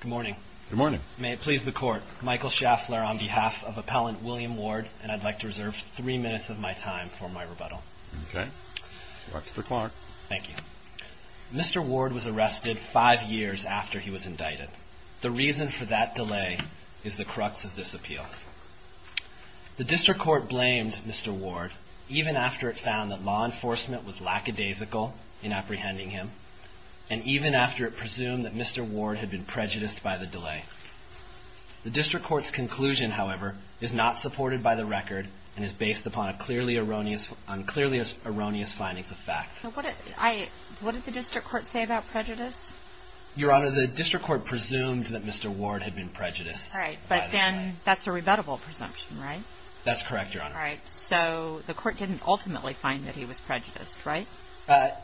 Good morning. May it please the Court, Michael Schaffler on behalf of Appellant William Ward, and I'd like to reserve three minutes of my time for my rebuttal. Mr. Ward was arrested five years after he was indicted. The reason for that delay is the crux of this appeal. The District Court blamed Mr. Ward even after it found that law enforcement was lackadaisical in apprehending him, and even after it presumed that Mr. Ward had been prejudiced by the delay. The District Court's conclusion, however, is not supported by the record, and is based upon a clearly erroneous findings of fact. MS. WARD So what did the District Court say about prejudice? MR. SCHAFFLER Your Honor, the District Court presumed that Mr. Ward had been prejudiced by the delay. MS. WARD All right. But then that's a rebuttable presumption, right? MR. SCHAFFLER That's correct, Your Honor. MS. WARD All right. So the Court didn't ultimately find that he was prejudiced, right? MR.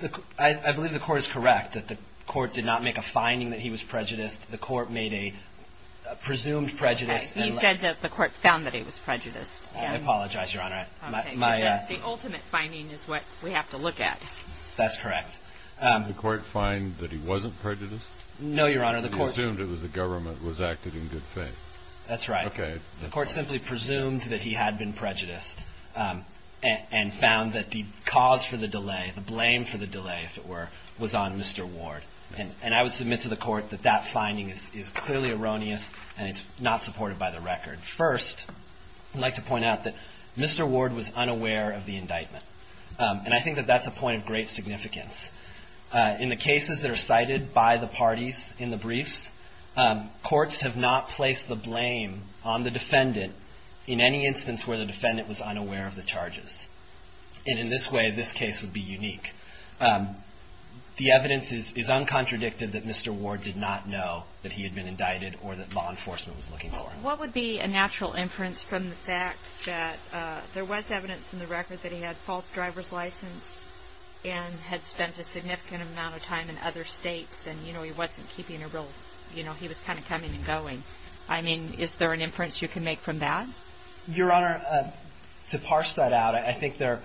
SCHAFFLER I believe the Court is correct that the Court did not make a finding that he was prejudiced. The Court made a presumed prejudice. MS. WARD You said that the Court found that he was prejudiced. MR. SCHAFFLER I apologize, Your Honor. MS. WARD Okay. You said the ultimate finding is what we have to look at. MR. SCHAFFLER That's correct. THE COURT Did the Court find that he wasn't prejudiced? MR. SCHAFFLER No, Your Honor. The Court THE COURT He assumed it was the government was acting in good faith. MR. SCHAFFLER That's right. THE COURT Okay. MR. SCHAFFLER The Court simply presumed that he had been prejudiced, and found that the cause for the delay, the blame for the delay, if it were, was on Mr. Ward. And I would submit to the Court that that finding is clearly erroneous, and it's not supported by the record. First, I'd like to point out that Mr. Ward was unaware of the indictment. And I think that that's a point of great significance. In the cases that are cited by the parties in the briefs, courts have not placed the blame on the defendant in any instance where the defendant was unaware of the charges. And in this way, this case would be unique. The evidence is uncontradictive that Mr. Ward did not know that he had been indicted or that law enforcement was looking for him. THE COURT What would be a natural inference from the fact that there was evidence in the record that he had a false driver's license and had spent a significant amount of time in other states, and, you know, he wasn't keeping a real, you know, he was kind of coming and going? I mean, is there an inference you can make from that? MR. WARD Your Honor, to parse that out, I think there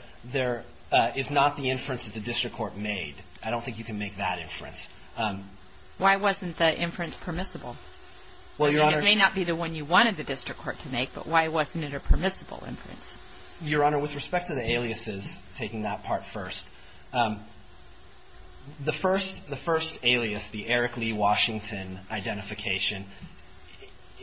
is not the inference that the district court made. I don't think you can make that inference. MS. GOTTLIEB Why wasn't the inference permissible? MR. WARD Well, Your Honor MS. GOTTLIEB It may not be the one you wanted the district court to make, but why wasn't it a permissible inference? MR. WARD Your Honor, with respect to the aliases, taking that part first, the first alias, the Eric Lee Washington identification,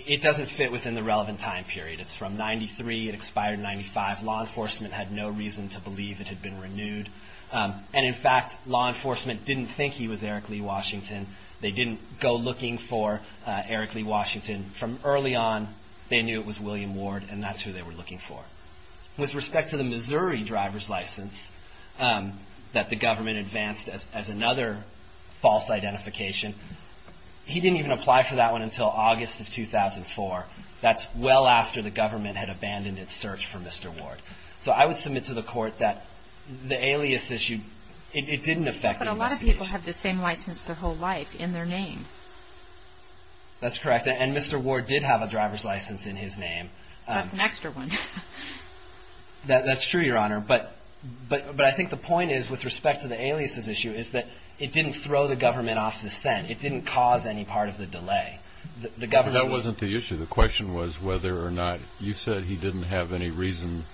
it doesn't fit within the relevant time period. It's from 93. It expired in 95. Law enforcement had no reason to believe it had been renewed. And, in fact, law enforcement didn't think he was Eric Lee Washington. They didn't go looking for Eric Lee Washington. From early on, they knew it was William Ward, and that's who they were looking for. With respect to the Missouri driver's license that the government advanced as another false identification, he didn't even apply for that one until August of 2004. That's well after the government had abandoned its search for Mr. Ward. So I would submit to the Court that the alias issue, it didn't affect the investigation. MS. GOTTLIEB But a lot of people have the same license their whole life in their name. MR. WARD That's correct. And Mr. Ward did have a driver's license in his name. MS. GOTTLIEB That's an extra one. MR. WARD That's true, Your Honor. But I think the point is, with respect to the aliases issue, is that it didn't throw the government off the scent. It didn't cause any part of the delay. The government was MR. WARD That wasn't the issue. The question was whether or not you said he didn't have any reason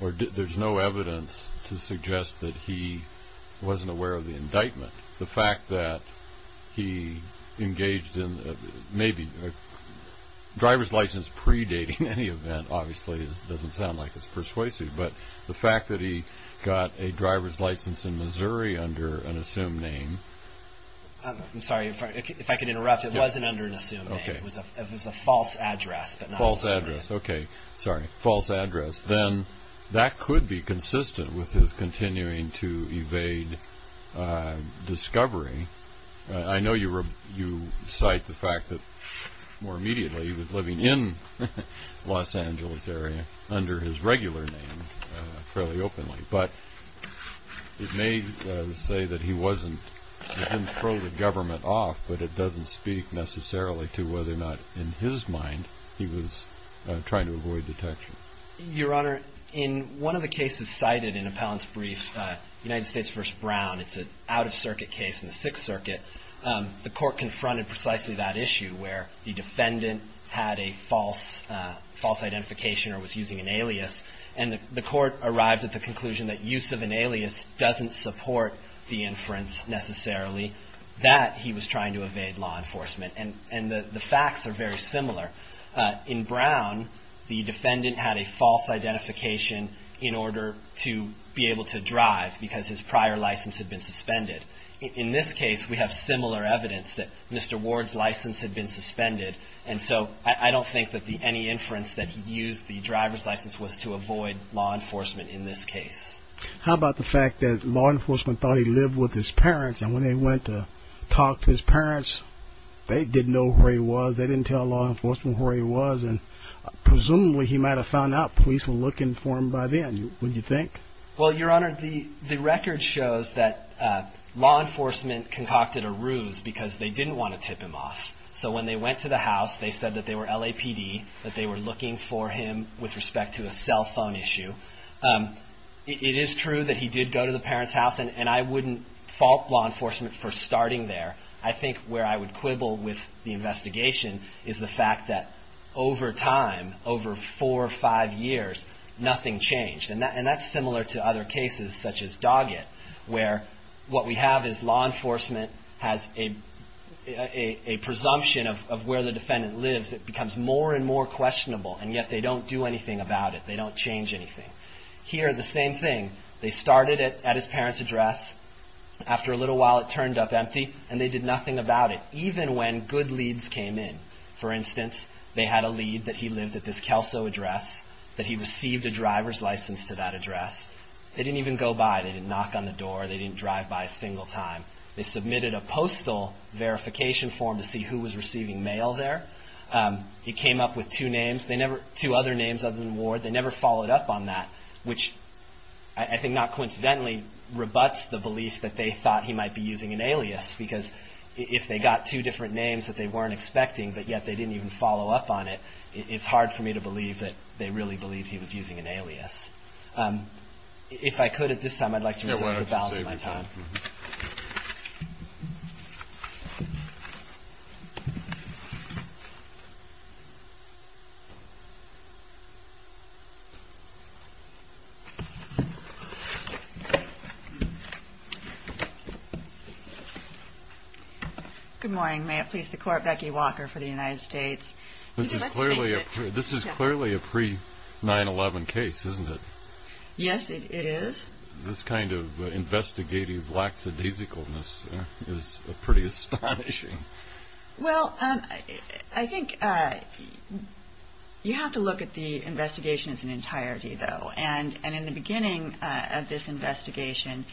or there's no evidence to suggest that he wasn't aware of the indictment. The fact that he engaged in maybe a driver's license predating any event, obviously, doesn't sound like it's persuasive. But the fact that he got a driver's license in Missouri under an assumed name MR. GOTTLIEB I'm sorry. If I could interrupt. It wasn't under an assumed name. It was a false address. MR. WARD False address. Okay. Sorry. False address. Then that could be consistent with his continuing to evade discovery. I know you cite the fact that, more immediately, he was living in Los Angeles area under his regular name, fairly openly. But it may say that he wasn't, he didn't throw the government off, but it doesn't speak necessarily to whether or not, in his mind, he was trying to avoid detection. MR. GOTTLIEB Your Honor, in one of the cases cited in Appellant's brief, United States v. Brown, it's an out-of-circuit case in the Sixth Circuit, the Court confronted precisely that issue, where the defendant had a false, false identification or was using an alias, and the Court arrived at the conclusion that use of an alias doesn't support the inference necessarily, that he was trying to evade law enforcement. And the facts are very similar. In Brown, the defendant had a false identification in order to be able to drive because his prior evidence that Mr. Ward's license had been suspended. And so I don't think that any inference that he used the driver's license was to avoid law enforcement in this case. MR. SMITH How about the fact that law enforcement thought he lived with his parents, and when they went to talk to his parents, they didn't know where he was. They didn't tell law enforcement where he was. And presumably, he might have found out. Police were looking for him by then, wouldn't you think? MR. BROWN Well, Your Honor, the record shows that law enforcement concocted a ruse because they didn't want to tip him off. So when they went to the house, they said that they were LAPD, that they were looking for him with respect to a cell phone issue. It is true that he did go to the parents' house, and I wouldn't fault law enforcement for starting there. I think where I would quibble with the investigation is the fact that over time, over four or five years, nothing changed. And that's similar to other cases such as Doggett, where what we have is law enforcement has a presumption of where the defendant lives that becomes more and more questionable, and yet they don't do anything about it. They don't change anything. Here, the same thing. They started it at his parents' address. After a little while, it turned up empty, and they did nothing about it, even when good leads came in. For instance, they had a lead that he lived at this Kelso address, that he received a driver's license to that address. They didn't even go by. They didn't knock on the door. They didn't drive by a single time. They submitted a postal verification form to see who was receiving mail there. It came up with two other names other than Ward. They never followed up on that, which I think, not coincidentally, rebuts the belief that they thought he might be using an alias, because if they got two different names that they weren't expecting, but yet they didn't even follow up on it, it's hard for me to believe that they really believed he was using an alias. If I could at this time, I'd like to reserve the balance of my time. Thank you. Good morning. May it please the Court, Becky Walker for the United States. This is clearly a pre-9-11 case, isn't it? Yes, it is. This kind of investigative lackadaisicalness is pretty astonishing. Well, I think you have to look at the investigation as an entirety, though, and in the beginning of this investigation,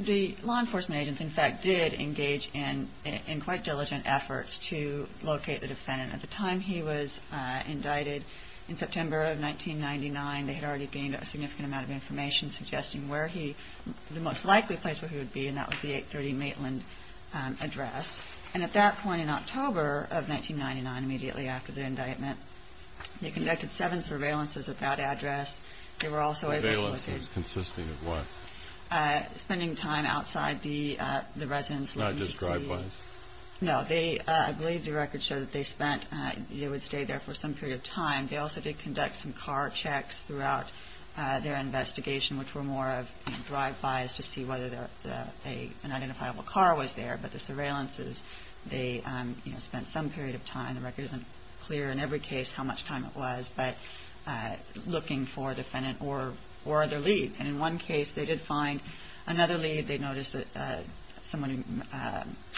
the law enforcement agents, in fact, did engage in quite diligent efforts to locate the defendant. At the time he was indicted, in September of 1999, they had already gained a significant amount of information suggesting the most likely place where he would be, and that was the 830 Maitland address. And at that point in October of 1999, immediately after the indictment, they conducted seven surveillances at that address. Surveillances consisting of what? Spending time outside the residence. Not just drive-bys? No. I believe the records show that they would stay there for some period of time. They also did conduct some car checks throughout their investigation, which were more of drive-bys to see whether an identifiable car was there. But the surveillances, they spent some period of time. The record isn't clear in every case how much time it was, but looking for a defendant or other leads. And in one case, they did find another lead. They noticed that someone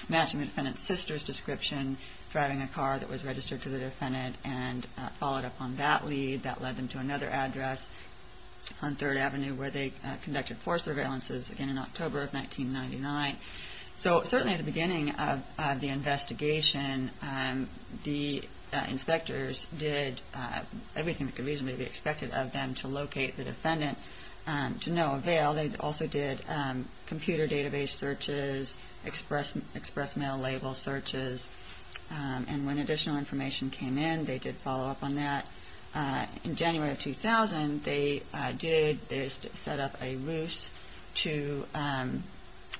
matching the defendant's sister's description driving a car that was registered to the defendant and followed up on that lead. That led them to another address on 3rd Avenue where they conducted four surveillances, again in October of 1999. So certainly at the beginning of the investigation, the inspectors did everything that could reasonably be expected of them to locate the defendant to no avail. They also did computer database searches, express mail label searches. And when additional information came in, they did follow up on that. In January of 2000, they did set up a ruse to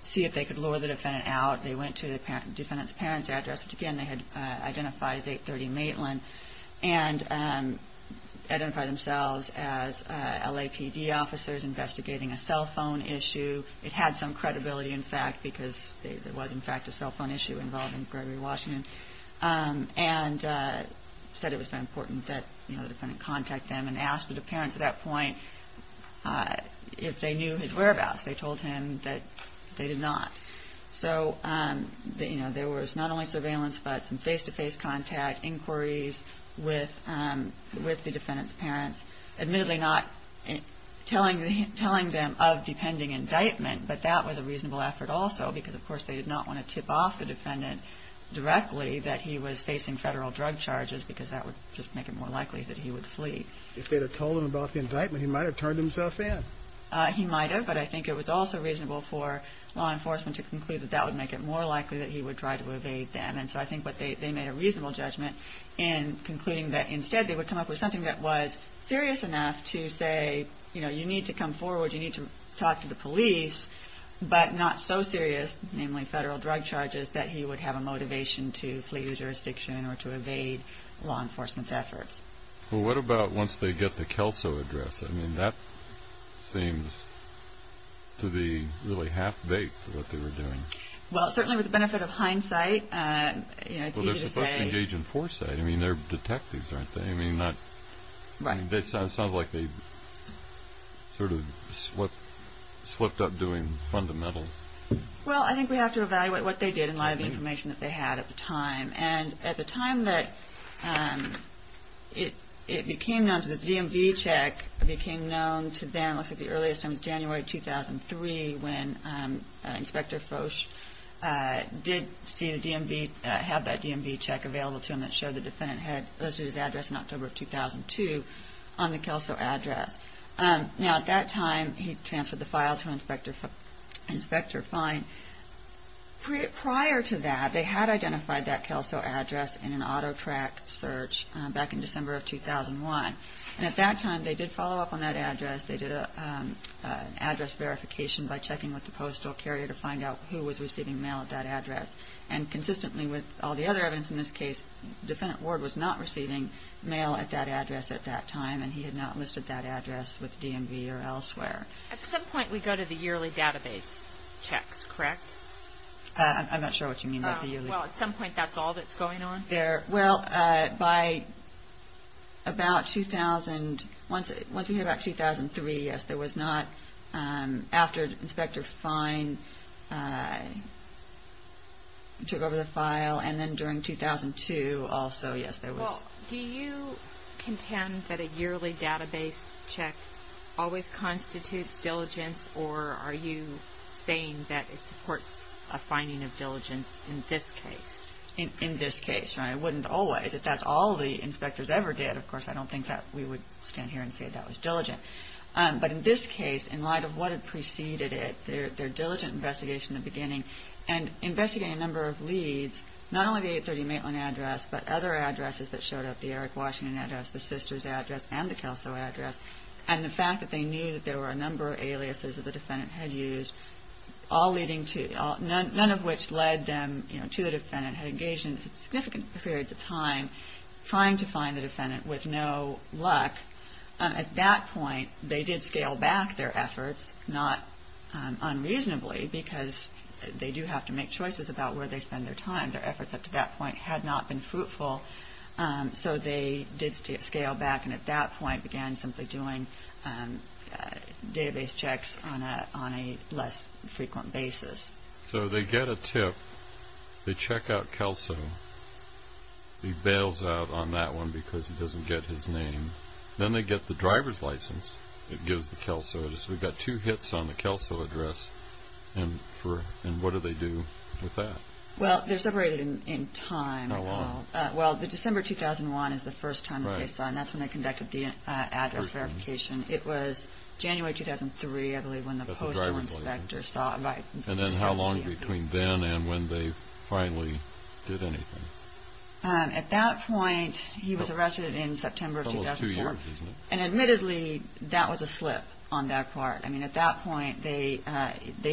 see if they could lure the defendant out. They went to the defendant's parents' address, which again they had identified as 830 Maitland, and identified themselves as LAPD officers investigating a cell phone issue. It had some credibility, in fact, because there was, in fact, a cell phone issue involved and said it was important that the defendant contact them and ask the parents at that point if they knew his whereabouts. They told him that they did not. So there was not only surveillance, but some face-to-face contact, inquiries with the defendant's parents. Admittedly not telling them of the pending indictment, but that was a reasonable effort also because, of course, they did not want to tip off the defendant directly that he was facing federal drug charges because that would just make it more likely that he would flee. If they had told him about the indictment, he might have turned himself in. He might have, but I think it was also reasonable for law enforcement to conclude that that would make it more likely that he would try to evade them. And so I think they made a reasonable judgment in concluding that instead they would come up with something that was serious enough to say, you know, you need to come forward, you need to talk to the police, but not so serious, namely federal drug charges, that he would have a motivation to flee the jurisdiction or to evade law enforcement's efforts. Well, what about once they get the Kelso address? I mean, that seems to be really half-baked what they were doing. Well, certainly with the benefit of hindsight, you know, it's easy to say... Well, they're supposed to engage in foresight. I mean, they're detectives, aren't they? Right. It sounds like they sort of slipped up doing fundamental... Well, I think we have to evaluate what they did in light of the information that they had at the time. And at the time that it became known that the DMV check became known to them, it looks like the earliest time was January 2003, when Inspector Foch did see the DMV, have that DMV check available to him that showed the defendant had listed his address in October of 2002 on the Kelso address. Now, at that time, he transferred the file to Inspector Fein. Prior to that, they had identified that Kelso address in an auto track search back in December of 2001. And at that time, they did follow up on that address. They did an address verification by checking with the postal carrier to find out who was receiving mail at that address. And consistently with all the other evidence in this case, defendant Ward was not receiving mail at that address at that time, and he had not listed that address with the DMV or elsewhere. At some point, we go to the yearly database checks, correct? I'm not sure what you mean by the yearly... Well, at some point, that's all that's going on? Well, by about 2000... Once we hear about 2003, yes, there was not... After Inspector Fein took over the file, and then during 2002 also, yes, there was... Well, do you contend that a yearly database check always constitutes diligence, or are you saying that it supports a finding of diligence in this case? It wouldn't always. If that's all the inspectors ever did, of course, I don't think that we would stand here and say that was diligent. But in this case, in light of what had preceded it, their diligent investigation in the beginning, and investigating a number of leads, not only the 830 Maitland address, but other addresses that showed up, the Eric Washington address, the Sisters address, and the Kelso address, and the fact that they knew that there were a number of aliases that the defendant had used, none of which led them to the defendant, had engaged in significant periods of time trying to find the defendant with no luck. At that point, they did scale back their efforts, not unreasonably, because they do have to make choices about where they spend their time. Their efforts up to that point had not been fruitful, so they did scale back, and at that point began simply doing database checks on a less frequent basis. So they get a tip. They check out Kelso. He bails out on that one because he doesn't get his name. Then they get the driver's license that gives the Kelso. So we've got two hits on the Kelso address, and what do they do with that? Well, they're separated in time. How long? Well, December 2001 is the first time that they saw, and that's when they conducted the address verification. It was January 2003, I believe, when the postal inspector saw it. And then how long between then and when they finally did anything? At that point, he was arrested in September 2004. Almost two years, isn't it? And admittedly, that was a slip on that part. I mean, at that point, they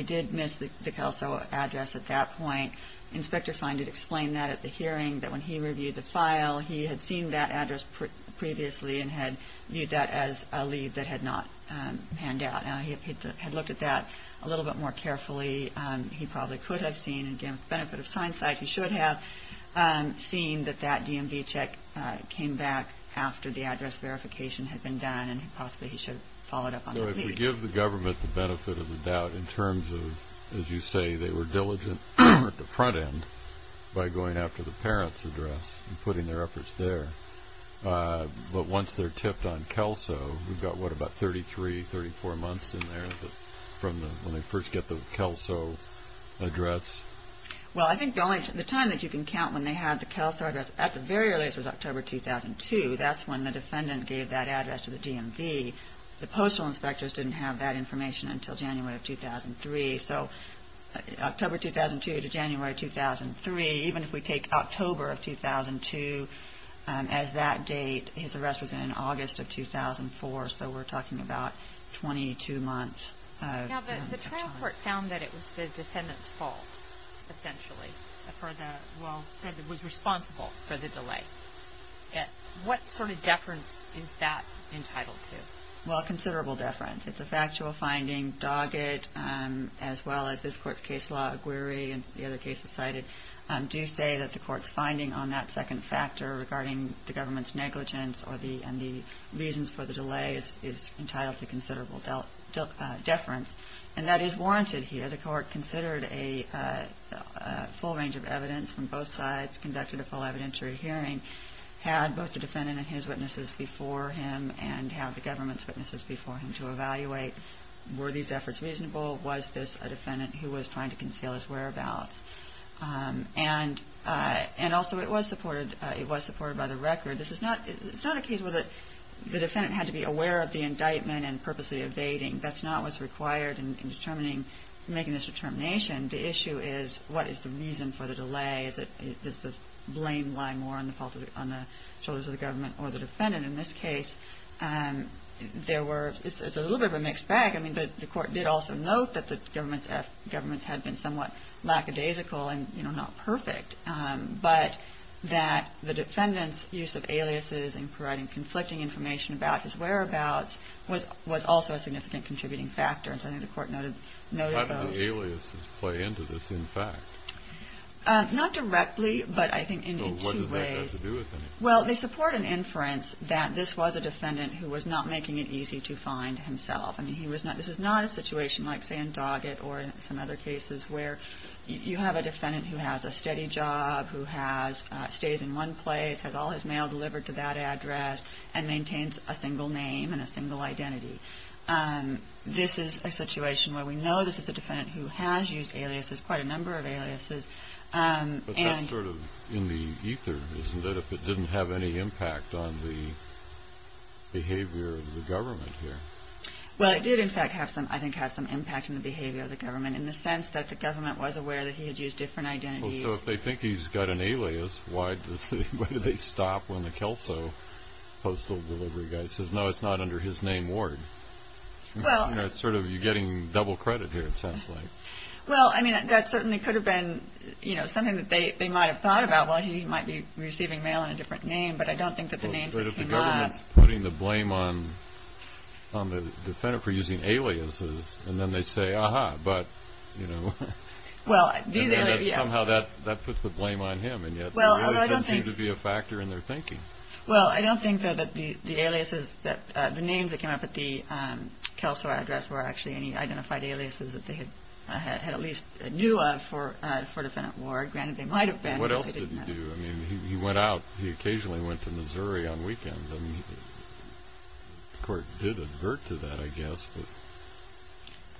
did miss the Kelso address at that point. Inspector Fein did explain that at the hearing, that when he reviewed the file, he had seen that address previously and had viewed that as a lead that had not panned out. Now, he had looked at that a little bit more carefully. He probably could have seen, again, with the benefit of hindsight, he should have seen that that DMV check came back after the address verification had been done, and possibly he should have followed up on the lead. So if we give the government the benefit of the doubt in terms of, as you say, they were diligent at the front end by going after the parents' address and putting their efforts there. But once they're tipped on Kelso, we've got, what, about 33, 34 months in there from when they first get the Kelso address? Well, I think the time that you can count when they had the Kelso address, at the very earliest was October 2002. That's when the defendant gave that address to the DMV. The postal inspectors didn't have that information until January of 2003. So October 2002 to January 2003, even if we take October of 2002 as that date, his address was in August of 2004, so we're talking about 22 months of time. Now, the trial court found that it was the defendant's fault, essentially, for the, well, was responsible for the delay. What sort of deference is that entitled to? Well, considerable deference. It's a factual finding. Doggett, as well as this court's case law, Aguirre, and the other cases cited, do say that the court's finding on that second factor regarding the government's negligence and the reasons for the delay is entitled to considerable deference. And that is warranted here. The court considered a full range of evidence from both sides, conducted a full evidentiary hearing, had both the defendant and his witnesses before him, and have the government's witnesses before him to evaluate were these efforts reasonable, was this a defendant who was trying to conceal his whereabouts. And also it was supported by the record. It's not a case where the defendant had to be aware of the indictment and purposely evading. That's not what's required in determining, making this determination. The issue is what is the reason for the delay. Does the blame lie more on the shoulders of the government or the defendant? In this case, it's a little bit of a mixed bag. I mean, the court did also note that the government's efforts had been somewhat lackadaisical and not perfect, but that the defendant's use of aliases and providing conflicting information about his whereabouts was also a significant contributing factor. And so I think the court noted both. How do the aliases play into this, in fact? Not directly, but I think in two ways. So what does that have to do with anything? Well, they support an inference that this was a defendant who was not making it easy to find himself. I mean, this is not a situation like, say, in Doggett or some other cases where you have a defendant who has a steady job, who stays in one place, has all his mail delivered to that address, and maintains a single name and a single identity. This is a situation where we know this is a defendant who has used aliases, quite a number of aliases. But that's sort of in the ether, isn't it, if it didn't have any impact on the behavior of the government here? Well, it did, in fact, I think have some impact on the behavior of the government in the sense that the government was aware that he had used different identities. Well, so if they think he's got an alias, why do they stop when the Kelso postal delivery guy says, no, it's not under his name, Ward? You're getting double credit here, it sounds like. Well, I mean, that certainly could have been, you know, something that they might have thought about. Well, he might be receiving mail in a different name, but I don't think that the names that came up. But if the government's putting the blame on the defendant for using aliases, and then they say, ah-ha, but, you know, somehow that puts the blame on him, and yet the aliases seem to be a factor in their thinking. Well, I don't think, though, that the aliases, that the names that came up at the Kelso address were actually any identified aliases that they had at least knew of for Defendant Ward. Granted, they might have been, but they didn't know. What else did he do? I mean, he went out. He occasionally went to Missouri on weekends. I mean, the court did advert to that, I guess, but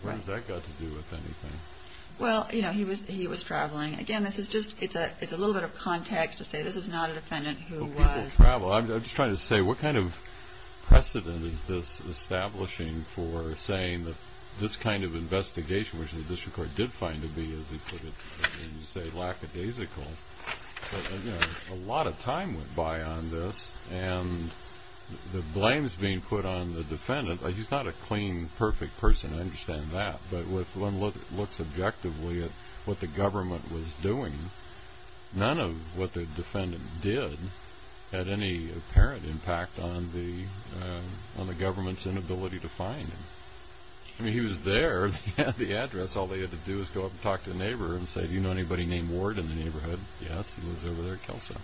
what has that got to do with anything? Well, you know, he was traveling. Again, this is just, it's a little bit of context to say this is not a defendant who was. I'm just trying to say what kind of precedent is this establishing for saying that this kind of investigation, which the district court did find to be, as he put it, as you say, lackadaisical. A lot of time went by on this, and the blame is being put on the defendant. He's not a clean, perfect person. I understand that. But when one looks objectively at what the government was doing, none of what the defendant did had any apparent impact on the government's inability to find him. I mean, he was there at the address. All they had to do was go up and talk to the neighbor and say, do you know anybody named Ward in the neighborhood? Yes, he lives over there at Kelso.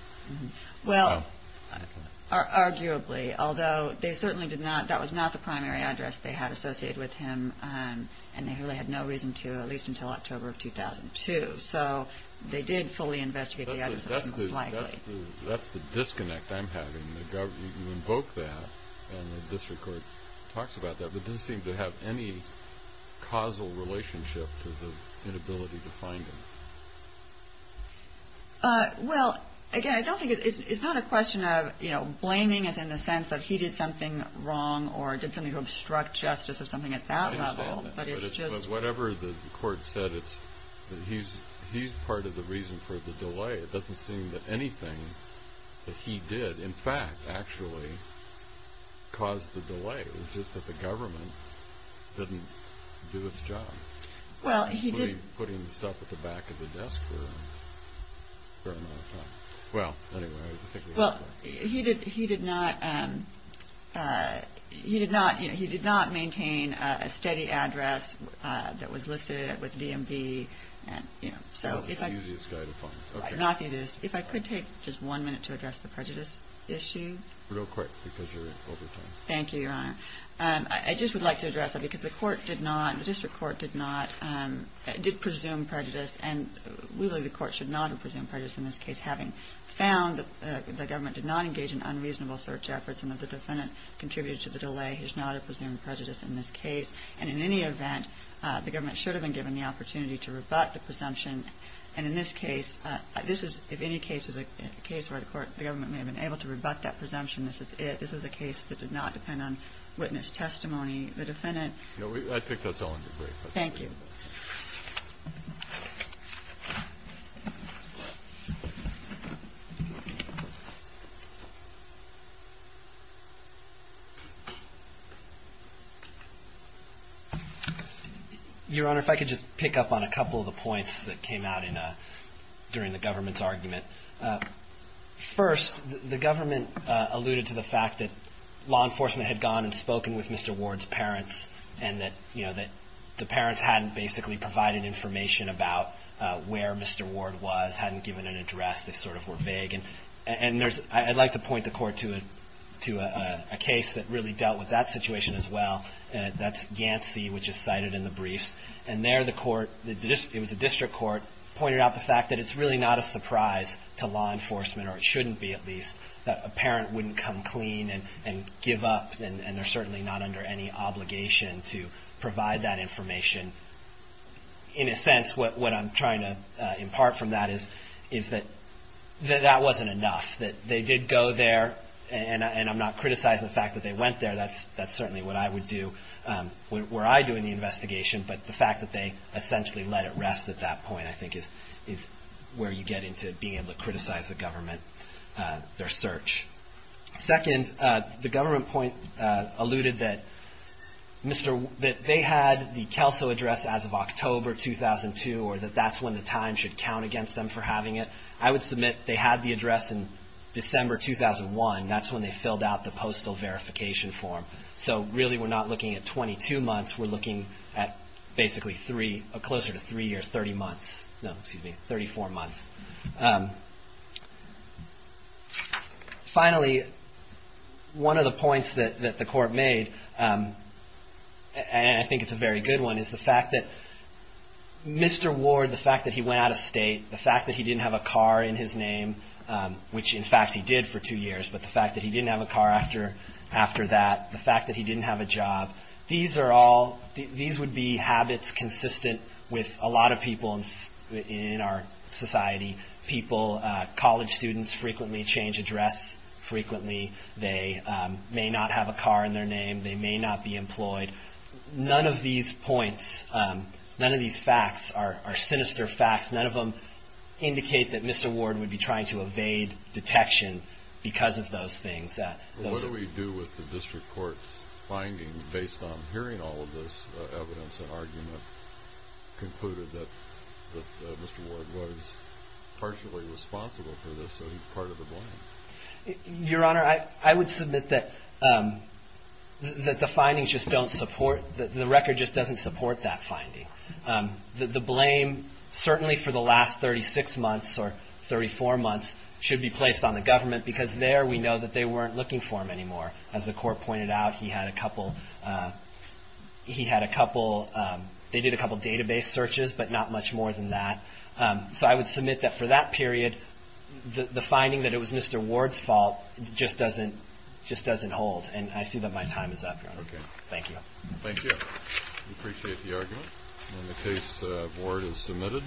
Well, arguably, although they certainly did not. That was not the primary address they had associated with him, and they really had no reason to, at least until October of 2002. So they did fully investigate the address, most likely. That's the disconnect I'm having. You invoke that, and the district court talks about that, but it doesn't seem to have any causal relationship to the inability to find him. Well, again, I don't think it's not a question of, you know, blaming us in the sense that he did something wrong or did something to obstruct justice or something at that level. I understand that. But whatever the court said, he's part of the reason for the delay. It doesn't seem that anything that he did, in fact, actually caused the delay. It was just that the government didn't do its job. Well, he did. Including putting the stuff at the back of the desk for a fair amount of time. Well, anyway, I think we have time. He did not maintain a steady address that was listed with DMV. That was the easiest guy to find. Not the easiest. If I could take just one minute to address the prejudice issue. Real quick, because you're over time. Thank you, Your Honor. I just would like to address that, because the court did not, the district court did not, did presume prejudice, and really the court should not have presumed prejudice in this case, having found that the government did not engage in unreasonable search efforts and that the defendant contributed to the delay. He does not have presumed prejudice in this case. And in any event, the government should have been given the opportunity to rebut the presumption. And in this case, this is, if any case is a case where the government may have been able to rebut that presumption, this is it. This is a case that did not depend on witness testimony. The defendant. I think that's all in the brief. Thank you. Your Honor, if I could just pick up on a couple of the points that came out in a, during the government's argument. First, the government alluded to the fact that law enforcement had gone and spoken with Mr. Ward's parents, and that, you know, that the parents hadn't, And that Mr. Ward was a criminal. information about where Mr. Ward was, hadn't given an address, they sort of were vague. And there's, I'd like to point the Court to a case that really dealt with that situation as well. That's Yancey, which is cited in the briefs. And there the Court, it was a district court, pointed out the fact that it's really not a surprise to law enforcement, or it shouldn't be at least, that a parent wouldn't come clean and give up, and they're certainly not under any obligation to provide that information. In a sense, what I'm trying to impart from that is, is that that wasn't enough. That they did go there, and I'm not criticizing the fact that they went there. That's certainly what I would do, where I do in the investigation. But the fact that they essentially let it rest at that point, I think, is where you get into being able to criticize the government, their search. Second, the government point alluded that they had the CALSO address as of October 2002, or that that's when the time should count against them for having it. I would submit they had the address in December 2001. That's when they filled out the postal verification form. So really, we're not looking at 22 months. We're looking at basically three, closer to three years, 30 months. No, excuse me, 34 months. Finally, one of the points that the court made, and I think it's a very good one, is the fact that Mr. Ward, the fact that he went out of state, the fact that he didn't have a car in his name, which in fact he did for two years, but the fact that he didn't have a car after that, the fact that he didn't have a job. These are all, these would be habits consistent with a lot of people in our society, people, college students frequently change address frequently. They may not have a car in their name. They may not be employed. None of these points, none of these facts are sinister facts. None of them indicate that Mr. Ward would be trying to evade detection because of those things. What do we do with the district court's findings based on hearing all of this evidence and argument concluded that Mr. Ward was partially responsible for this, so he's part of the blame? Your Honor, I would submit that the findings just don't support, the record just doesn't support that finding. The blame certainly for the last 36 months or 34 months should be placed on the government because there we know that they weren't looking for him anymore. As the court pointed out, he had a couple, he had a couple, they did a couple database searches, but not much more than that. So I would submit that for that period, the finding that it was Mr. Ward's fault just doesn't, just doesn't hold. And I see that my time is up, Your Honor. Thank you. Thank you. We appreciate the argument. And the case of Ward is submitted.